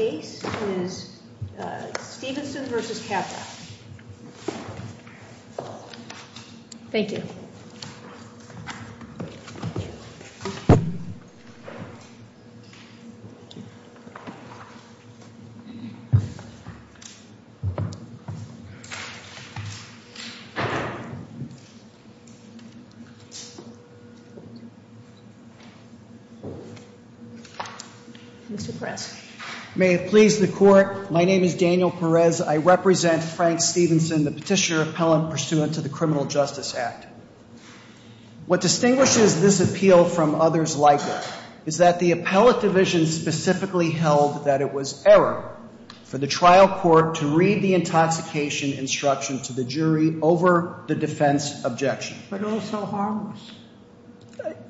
The case is Stevenson v. Capra. Thank you. Mr. Prest. May it please the court, my name is Daniel Perez. I represent Frank Stevenson, the petitioner appellant pursuant to the Criminal Justice Act. What distinguishes this appeal from others like it is that the appellate division specifically held that it was error for the trial court to read the intoxication instruction to the jury over the defense objection. But also harmless.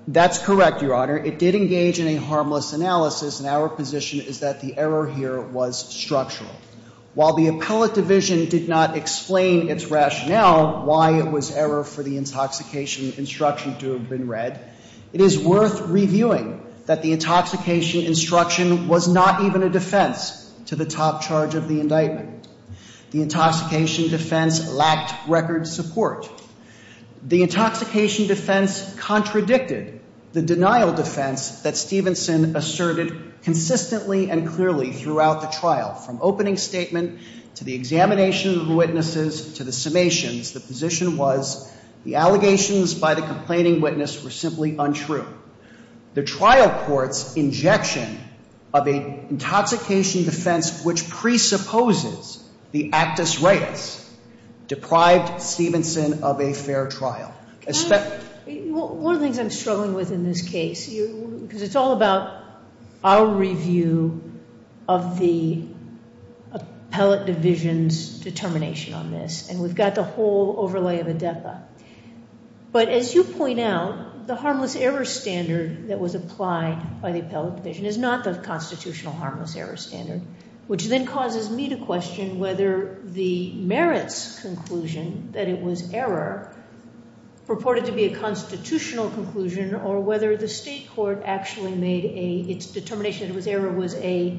That's correct, Your Honor. Your Honor, it did engage in a harmless analysis and our position is that the error here was structural. While the appellate division did not explain its rationale why it was error for the intoxication instruction to have been read, it is worth reviewing that the intoxication instruction was not even a defense to the top charge of the indictment. The intoxication defense lacked record support. The intoxication defense contradicted the denial defense that Stevenson asserted consistently and clearly throughout the trial. From opening statement to the examination of the witnesses to the summations, the position was the allegations by the complaining witness were simply untrue. The trial court's injection of an intoxication defense which presupposes the actus reus deprived Stevenson of a fair trial. One of the things I'm struggling with in this case, because it's all about our review of the appellate division's determination on this, and we've got the whole overlay of ADEPA. But as you point out, the harmless error standard that was applied by the appellate division is not the constitutional harmless error standard, which then causes me to question whether the merits conclusion that it was error purported to be a constitutional conclusion or whether the state court actually made its determination that it was error was a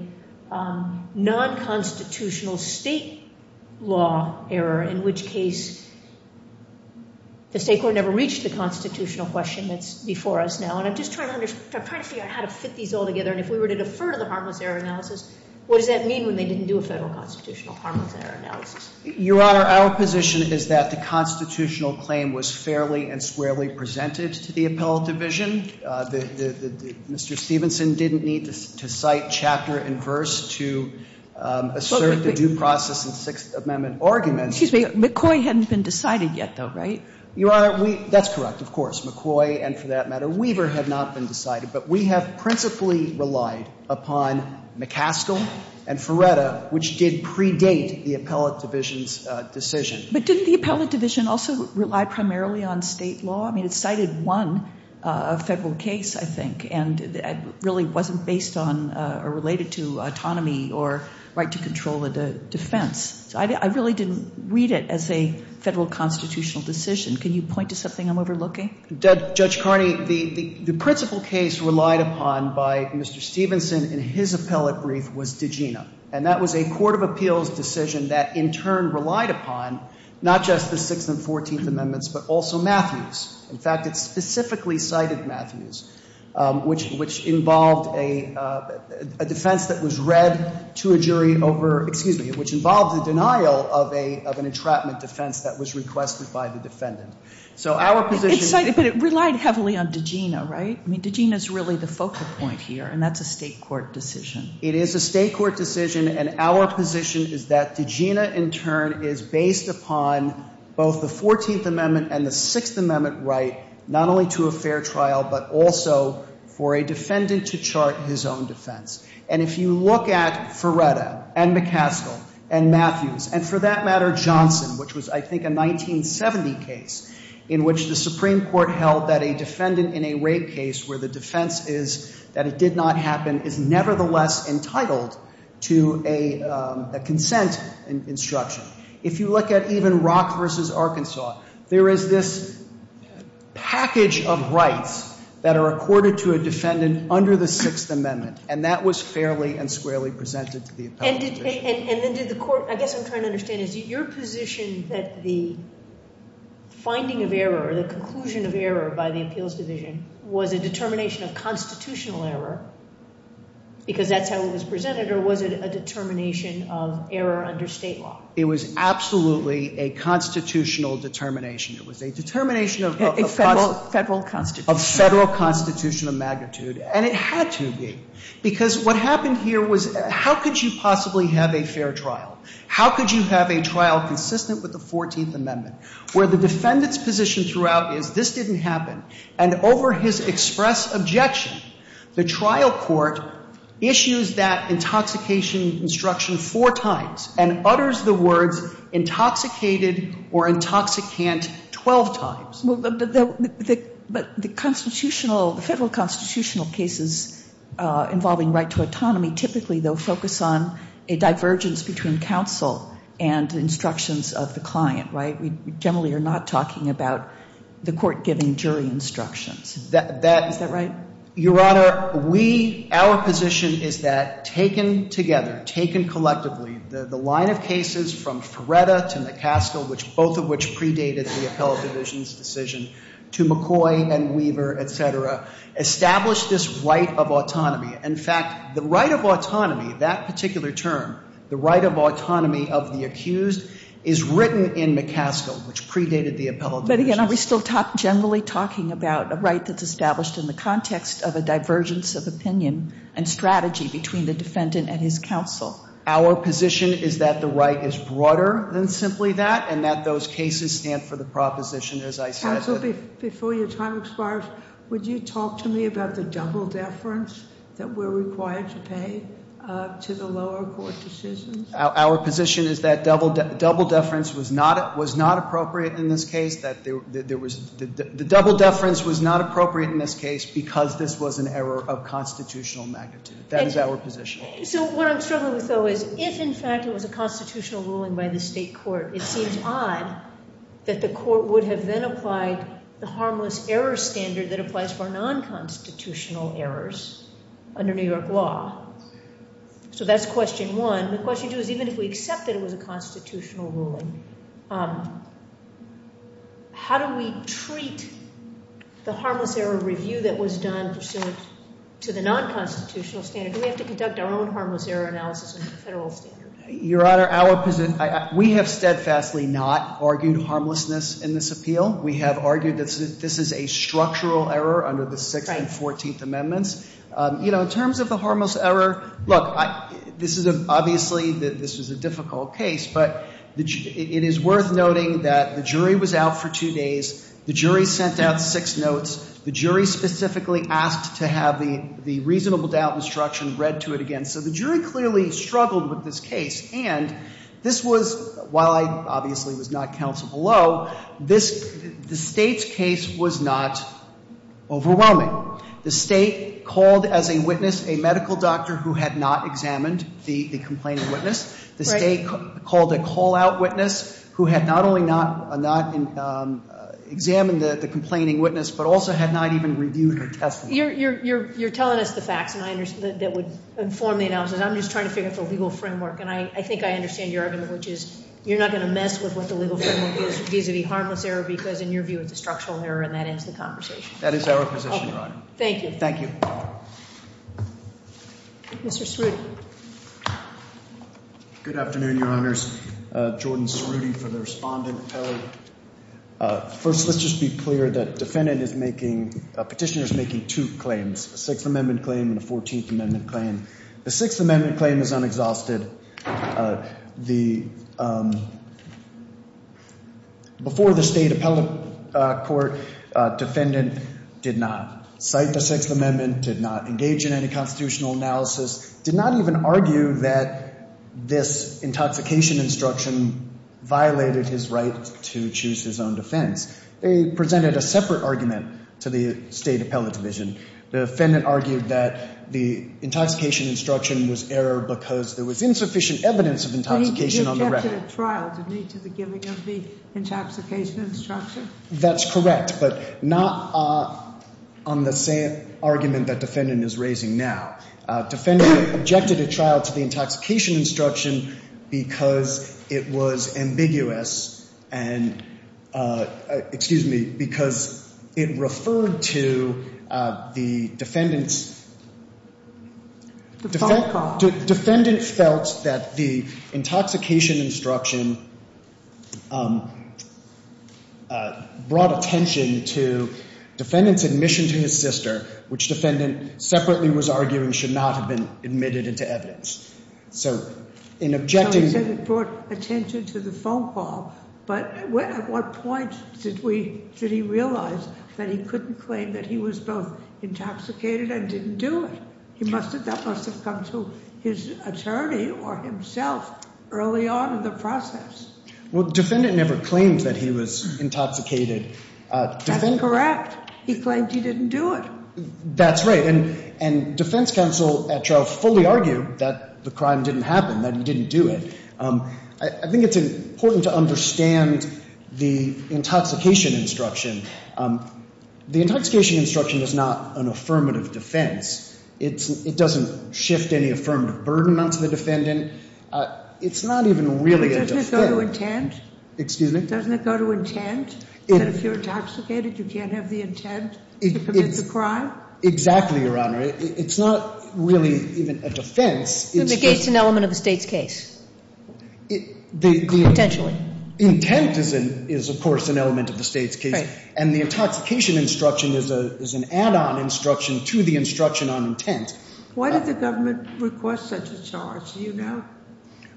non-constitutional state law error, in which case the state court never reached the constitutional question that's before us now. And I'm just trying to figure out how to fit these all together. And if we were to defer to the harmless error analysis, what does that mean when they didn't do a federal constitutional harmless error analysis? Your Honor, our position is that the constitutional claim was fairly and squarely presented to the appellate division. Mr. Stevenson didn't need to cite chapter and verse to assert the due process and Sixth Amendment arguments. Excuse me. McCoy hadn't been decided yet, though, right? Your Honor, that's correct, of course. McCoy and, for that matter, Weaver had not been decided. But we have principally relied upon McCaskill and Ferretta, which did predate the appellate division's decision. But didn't the appellate division also rely primarily on state law? I mean, it cited one federal case, I think, and really wasn't based on or related to autonomy or right to control a defense. So I really didn't read it as a federal constitutional decision. Can you point to something I'm overlooking? Judge Carney, the principal case relied upon by Mr. Stevenson in his appellate brief was Degena. And that was a court of appeals decision that, in turn, relied upon not just the Sixth and Fourteenth Amendments, but also Matthews. In fact, it specifically cited Matthews, which involved a defense that was read to a jury over, excuse me, which involved the denial of an entrapment defense that was requested by the defendant. But it relied heavily on Degena, right? I mean, Degena is really the focal point here, and that's a state court decision. It is a state court decision, and our position is that Degena, in turn, is based upon both the Fourteenth Amendment and the Sixth Amendment right, not only to a fair trial, but also for a defendant to chart his own defense. And if you look at Ferretta and McCaskill and Matthews and, for that matter, Johnson, which was, I think, a 1970 case in which the Supreme Court held that a defendant in a rape case where the defense is that it did not happen is nevertheless entitled to a consent instruction. If you look at even Rock v. Arkansas, there is this package of rights that are accorded to a defendant under the Sixth Amendment, and that was fairly and squarely presented to the appellate. And I guess what I'm trying to understand is your position that the finding of error or the conclusion of error by the appeals division was a determination of constitutional error because that's how it was presented, or was it a determination of error under state law? It was absolutely a constitutional determination. It was a determination of constitutional magnitude, and it had to be, because what happened here was how could you possibly have a fair trial? How could you have a trial consistent with the Fourteenth Amendment where the defendant's position throughout is this didn't happen? And over his express objection, the trial court issues that intoxication instruction four times and utters the words intoxicated or intoxicant 12 times. But the constitutional, the Federal constitutional cases involving right to autonomy typically, though, focus on a divergence between counsel and instructions of the client, right? We generally are not talking about the court giving jury instructions. Is that right? Your Honor, we, our position is that taken together, taken collectively, the line of cases from Feretta to McCaskill, which both of which predated the appellate division's decision, to McCoy and Weaver, et cetera, established this right of autonomy. In fact, the right of autonomy, that particular term, the right of autonomy of the accused, is written in McCaskill, which predated the appellate division's. But again, are we still generally talking about a right that's established in the context of a divergence of opinion and strategy between the defendant and his counsel? Our position is that the right is broader than simply that and that those cases stand for the proposition, as I said. Counsel, before your time expires, would you talk to me about the double deference that we're required to pay to the lower court decisions? Our position is that double deference was not appropriate in this case, that there was, the double deference was not appropriate in this case because this was an error of constitutional magnitude. That is our position. So what I'm struggling with, though, is if, in fact, it was a constitutional ruling by the state court, it seems odd that the court would have then applied the harmless error standard that applies for non-constitutional errors under New York law. So that's question one. The question two is even if we accept that it was a constitutional ruling, how do we treat the harmless error review that was done pursuant to the non-constitutional standard? Do we have to conduct our own harmless error analysis under the federal standard? Your Honor, our position, we have steadfastly not argued harmlessness in this appeal. We have argued that this is a structural error under the Sixth and Fourteenth Amendments. You know, in terms of the harmless error, look, this is obviously, this is a difficult case, but it is worth noting that the jury was out for two days. The jury sent out six notes. The jury specifically asked to have the reasonable doubt instruction read to it again. So the jury clearly struggled with this case. And this was, while I obviously was not counsel below, this, the State's case was not overwhelming. The State called as a witness a medical doctor who had not examined the complaining witness. The State called a call-out witness who had not only not examined the complaining witness but also had not even reviewed her testimony. You're telling us the facts that would inform the analysis. I'm just trying to figure out the legal framework, and I think I understand your argument, which is you're not going to mess with what the legal framework is vis-à-vis harmless error because, in your view, it's a structural error, and that ends the conversation. That is our position, Your Honor. Thank you. Thank you. Mr. Cerutti. Good afternoon, Your Honors. Jordan Cerutti for the respondent. First, let's just be clear that defendant is making, petitioner is making two claims, a Sixth Amendment claim and a Fourteenth Amendment claim. The Sixth Amendment claim is unexhausted. The, before the State appellate court, defendant did not cite the Sixth Amendment, did not engage in any constitutional analysis, did not even argue that this intoxication instruction violated his right to choose his own defense. They presented a separate argument to the State appellate division. The defendant argued that the intoxication instruction was errored because there was insufficient evidence of intoxication on the record. Did he object to the trial? Did he object to the giving of the intoxication instruction? That's correct, but not on the same argument that defendant is raising now. Defendant objected to trial to the intoxication instruction because it was ambiguous and, excuse me, because it referred to the defendant's, defendant felt that the intoxication instruction brought attention to defendant's admission to his sister, which defendant separately was arguing should not have been admitted into evidence. So in objecting... No, he said it brought attention to the phone call, but at what point did we, did he realize that he couldn't claim that he was both intoxicated and didn't do it? He must have, that must have come to his attorney or himself early on in the process. Well, defendant never claimed that he was intoxicated. That's correct. He claimed he didn't do it. That's right. And defense counsel at trial fully argued that the crime didn't happen, that he didn't do it. I think it's important to understand the intoxication instruction. The intoxication instruction is not an affirmative defense. It doesn't shift any affirmative burden onto the defendant. It's not even really a defense. Doesn't it go to intent? Excuse me? Intent to commit the crime? Exactly, Your Honor. It's not really even a defense. It negates an element of the State's case, potentially. Intent is, of course, an element of the State's case. Right. And the intoxication instruction is an add-on instruction to the instruction on intent. Why did the government request such a charge? Do you know?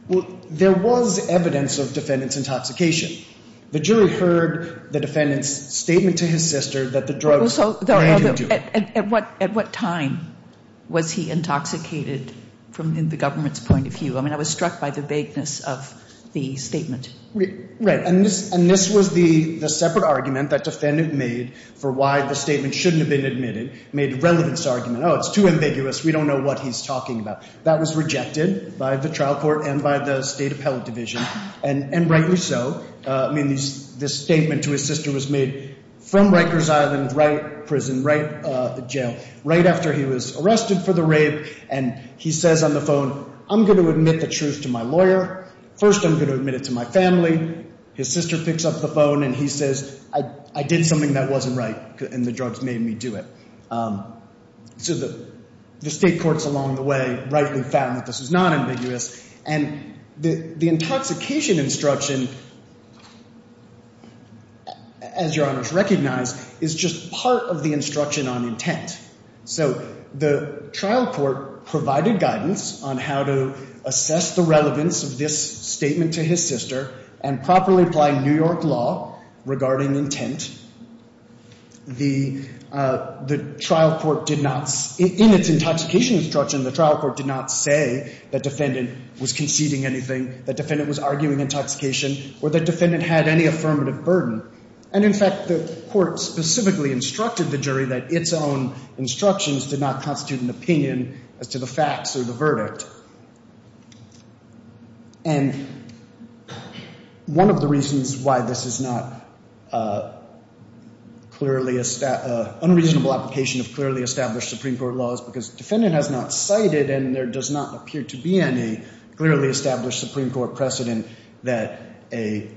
Well, there was evidence of defendant's intoxication. The jury heard the defendant's statement to his sister that the drugs made him do it. At what time was he intoxicated from the government's point of view? I mean, I was struck by the vagueness of the statement. Right. And this was the separate argument that defendant made for why the statement shouldn't have been admitted, made relevance argument. Oh, it's too ambiguous. We don't know what he's talking about. That was rejected by the trial court and by the State Appellate Division, and rightly so. I mean, this statement to his sister was made from Rikers Island, Wright Prison, Wright Jail, right after he was arrested for the rape. And he says on the phone, I'm going to admit the truth to my lawyer. First, I'm going to admit it to my family. His sister picks up the phone, and he says, I did something that wasn't right, and the drugs made me do it. So the State courts along the way rightly found that this was not ambiguous. And the intoxication instruction, as Your Honors recognize, is just part of the instruction on intent. So the trial court provided guidance on how to assess the relevance of this statement to his sister and properly apply New York law regarding intent. The trial court did not, in its intoxication instruction, the trial court did not say that defendant was conceding anything, that defendant was arguing intoxication, or that defendant had any affirmative burden. And in fact, the court specifically instructed the jury that its own instructions did not constitute an opinion as to the facts or the verdict. And one of the reasons why this is not clearly a unreasonable application of clearly established Supreme Court laws, because the defendant has not cited and there does not appear to be any clearly established Supreme Court precedent that a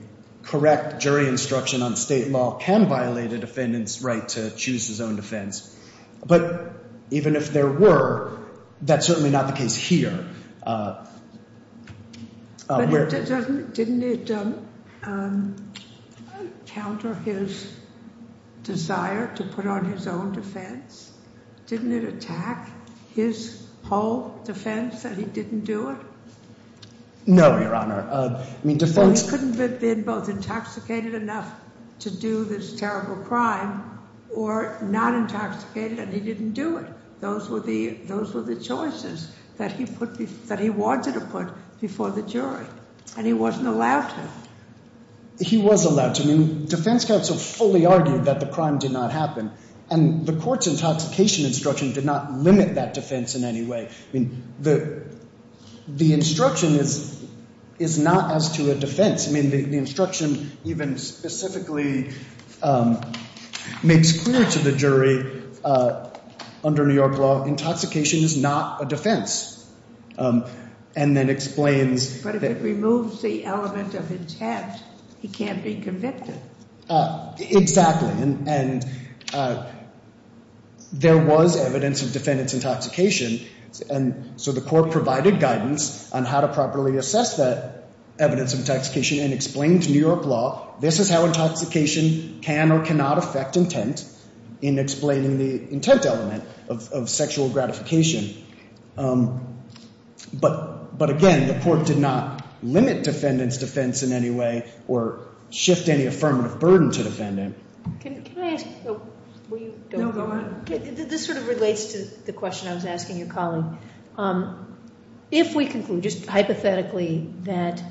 correct jury instruction on State law can violate a defendant's right to choose his own defense. But even if there were, that's certainly not the case here. Didn't it counter his desire to put on his own defense? Didn't it attack his whole defense that he didn't do it? No, Your Honor. He couldn't have been both intoxicated enough to do this terrible crime or not intoxicated and he didn't do it. Those were the choices that he wanted to put before the jury. And he wasn't allowed to. He was allowed to. I mean, defense counsel fully argued that the crime did not happen. And the court's intoxication instruction did not limit that defense in any way. I mean, the instruction is not as to a defense. I mean, the instruction even specifically makes clear to the jury under New York law, intoxication is not a defense, and then explains. But if it removes the element of intent, he can't be convicted. Exactly. And there was evidence of defendant's intoxication. And so the court provided guidance on how to properly assess that evidence of intoxication and explained to New York law, this is how intoxication can or cannot affect intent in explaining the intent element of sexual gratification. But again, the court did not limit defendant's defense in any way or shift any affirmative burden to defendant. Can I ask? No, go ahead. This sort of relates to the question I was asking your colleague. If we conclude just hypothetically that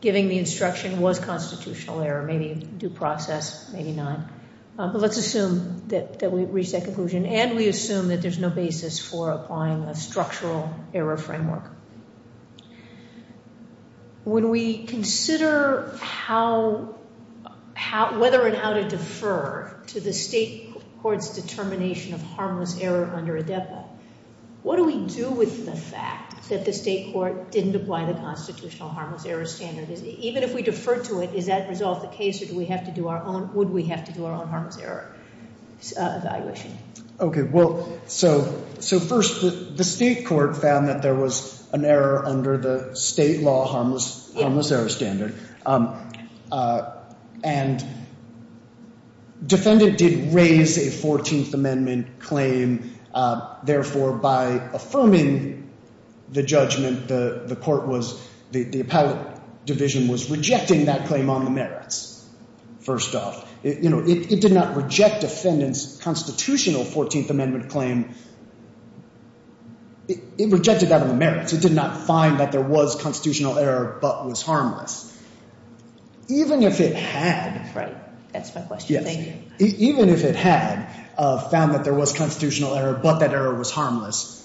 giving the instruction was constitutional error, maybe due process, maybe not. But let's assume that we've reached that conclusion and we assume that there's no basis for applying a structural error framework. When we consider whether and how to defer to the state court's determination of harmless error under ADEPA, what do we do with the fact that the state court didn't apply the constitutional harmless error standard? Even if we defer to it, does that resolve the case or would we have to do our own harmless error evaluation? Okay, well, so first the state court found that there was an error under the state law harmless error standard. And defendant did raise a 14th Amendment claim. Therefore, by affirming the judgment, the court was, the appellate division was rejecting that claim on the merits, first off. It did not reject defendant's constitutional 14th Amendment claim. It rejected that on the merits. It did not find that there was constitutional error but was harmless. Even if it had. Right, that's my question. Even if it had found that there was constitutional error but that error was harmless,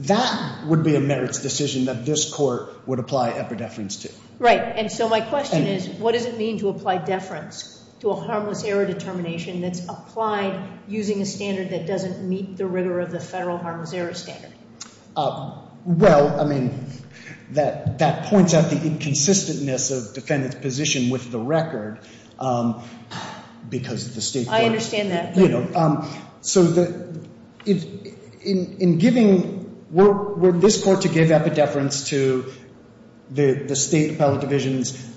that would be a merits decision that this court would apply epideference to. Right, and so my question is, what does it mean to apply deference to a harmless error determination that's applied using a standard that doesn't meet the rigor of the federal harmless error standard? Well, I mean, that points out the inconsistentness of defendant's position with the record because the state court. I understand that. So in giving, were this court to give epideference to the state appellate division's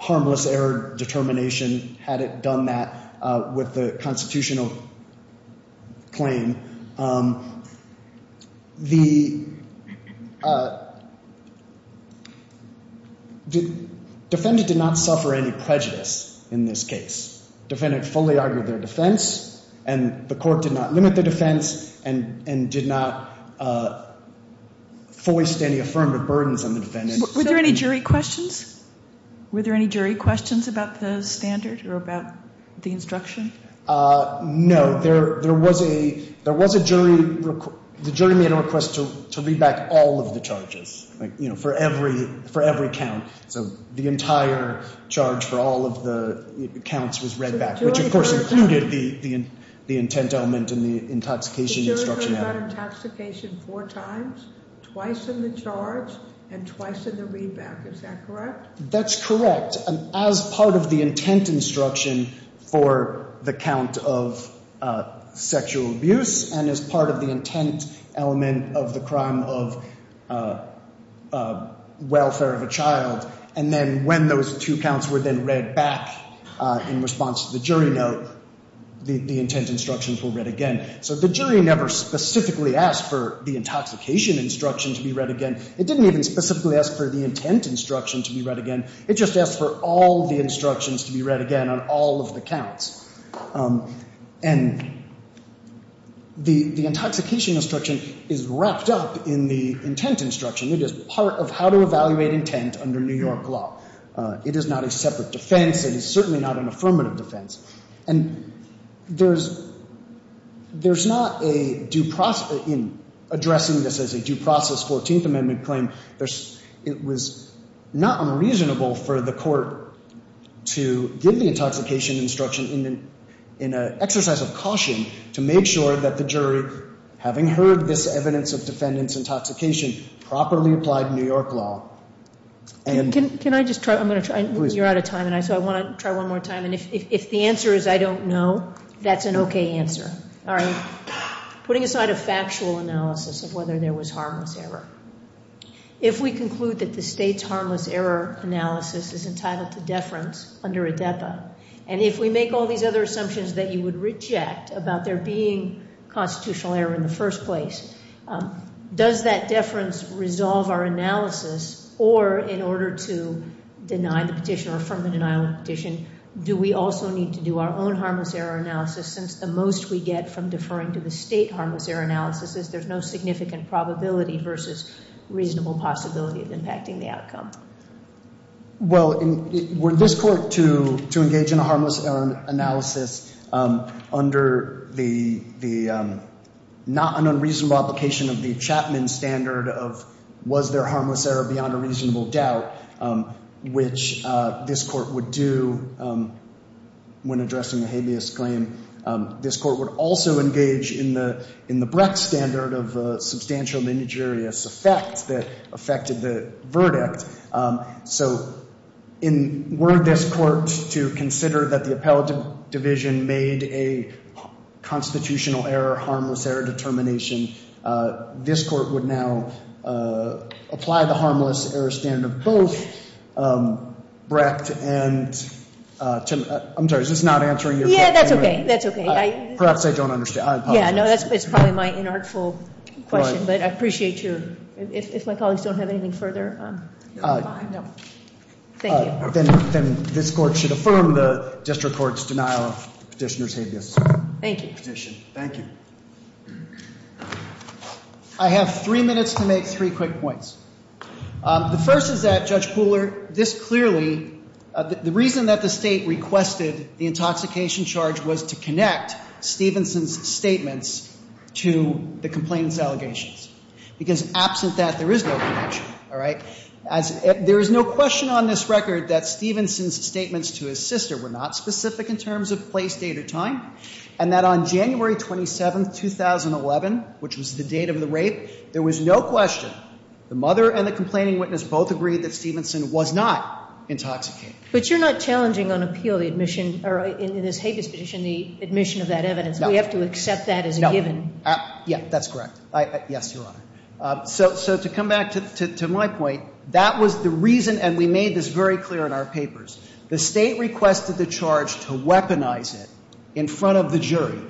harmless error determination had it done that with the constitutional claim, the defendant did not suffer any prejudice in this case. Defendant fully argued their defense, and the court did not limit their defense and did not foist any affirmative burdens on the defendant. Were there any jury questions? Were there any jury questions about the standard or about the instruction? No. There was a jury, the jury made a request to read back all of the charges, you know, for every count. So the entire charge for all of the counts was read back, which, of course, included the intent element and the intoxication instruction element. So the jury read out intoxication four times, twice in the charge and twice in the read back. Is that correct? That's correct. And as part of the intent instruction for the count of sexual abuse and as part of the intent element of the crime of welfare of a child, and then when those two counts were then read back in response to the jury note, the intent instructions were read again. So the jury never specifically asked for the intoxication instruction to be read again. It didn't even specifically ask for the intent instruction to be read again. It just asked for all the instructions to be read again on all of the counts. And the intoxication instruction is wrapped up in the intent instruction. It is part of how to evaluate intent under New York law. It is not a separate defense. It is certainly not an affirmative defense. And there's not a due process in addressing this as a due process 14th Amendment claim. It was not unreasonable for the court to give the intoxication instruction in an exercise of caution to make sure that the jury, having heard this evidence of defendant's intoxication, properly applied New York law. Can I just try? I'm going to try. You're out of time, so I want to try one more time. And if the answer is I don't know, that's an okay answer. Putting aside a factual analysis of whether there was harmless error, if we conclude that the state's harmless error analysis is entitled to deference under ADEPA, and if we make all these other assumptions that you would reject about there being constitutional error in the first place, does that deference resolve our analysis? Or in order to deny the petition or affirm the denial of the petition, do we also need to do our own harmless error analysis, since the most we get from deferring to the state harmless error analysis is there's no significant probability versus reasonable possibility of impacting the outcome? Well, were this court to engage in a harmless error analysis under an unreasonable application of the Chapman standard of was there harmless error beyond a reasonable doubt, which this court would do when addressing a habeas claim, this court would also engage in the Brecht standard of substantial and injurious effect that affected the verdict. So were this court to consider that the appellate division made a constitutional error, harmless error determination, this court would now apply the harmless error standard of both Brecht and Timmerman. I'm sorry, is this not answering your question? Yeah, that's okay. That's okay. Perhaps I don't understand. I apologize. Yeah, no, that's probably my inartful question, but I appreciate you. If my colleagues don't have anything further, I'm fine. Thank you. Then this court should affirm the district court's denial of petitioner's habeas petition. Thank you. Thank you. I have three minutes to make three quick points. The first is that, Judge Pooler, this clearly, the reason that the state requested the intoxication charge was to connect Stevenson's statements to the complainant's allegations, because absent that, there is no connection. All right? There is no question on this record that Stevenson's statements to his sister were not specific in terms of place, date, or time, and that on January 27, 2011, which was the date of the rape, there was no question. The mother and the complaining witness both agreed that Stevenson was not intoxicated. But you're not challenging on appeal the admission or in this habeas petition the admission of that evidence. No. We have to accept that as a given. Yeah, that's correct. Yes, Your Honor. So to come back to my point, that was the reason, and we made this very clear in our papers. The state requested the charge to weaponize it in front of the jury.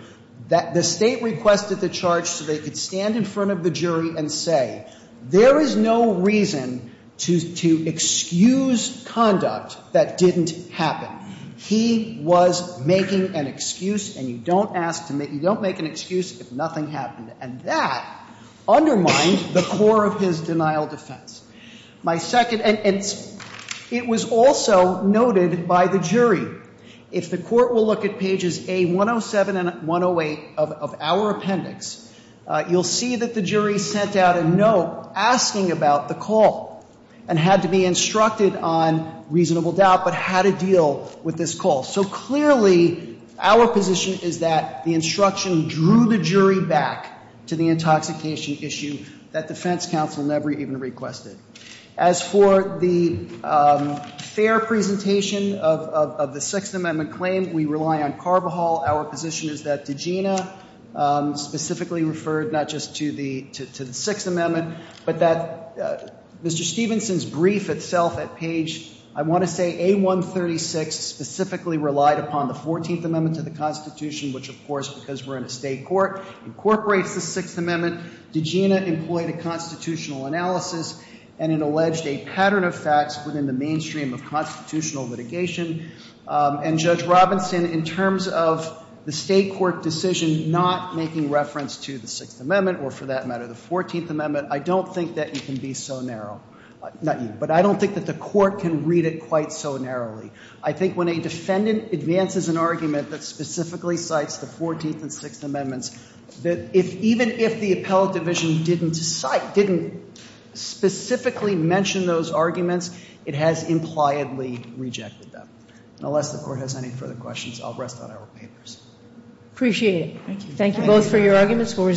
The state requested the charge so they could stand in front of the jury and say, there is no reason to excuse conduct that didn't happen. He was making an excuse, and you don't make an excuse if nothing happened. And that undermined the core of his denial of defense. And it was also noted by the jury. If the court will look at pages A107 and 108 of our appendix, you'll see that the jury sent out a note asking about the call and had to be instructed on reasonable doubt but how to deal with this call. So clearly, our position is that the instruction drew the jury back to the intoxication issue that defense counsel never even requested. As for the fair presentation of the Sixth Amendment claim, we rely on Carvajal. Our position is that DeGina specifically referred not just to the Sixth Amendment but that Mr. Stevenson's brief itself at page, I want to say A136, specifically relied upon the Fourteenth Amendment to the Constitution, which, of course, because we're in a state court, incorporates the Sixth Amendment. DeGina employed a constitutional analysis, and it alleged a pattern of facts within the mainstream of constitutional litigation. And, Judge Robinson, in terms of the state court decision not making reference to the Sixth Amendment or, for that matter, the Fourteenth Amendment, I don't think that you can be so narrow. Not you, but I don't think that the court can read it quite so narrowly. I think when a defendant advances an argument that specifically cites the Fourteenth and Sixth Amendments, that even if the appellate division didn't specifically mention those arguments, it has impliedly rejected them. Unless the court has any further questions, I'll rest on our papers. Appreciate it. Thank you. Thank you both for your arguments.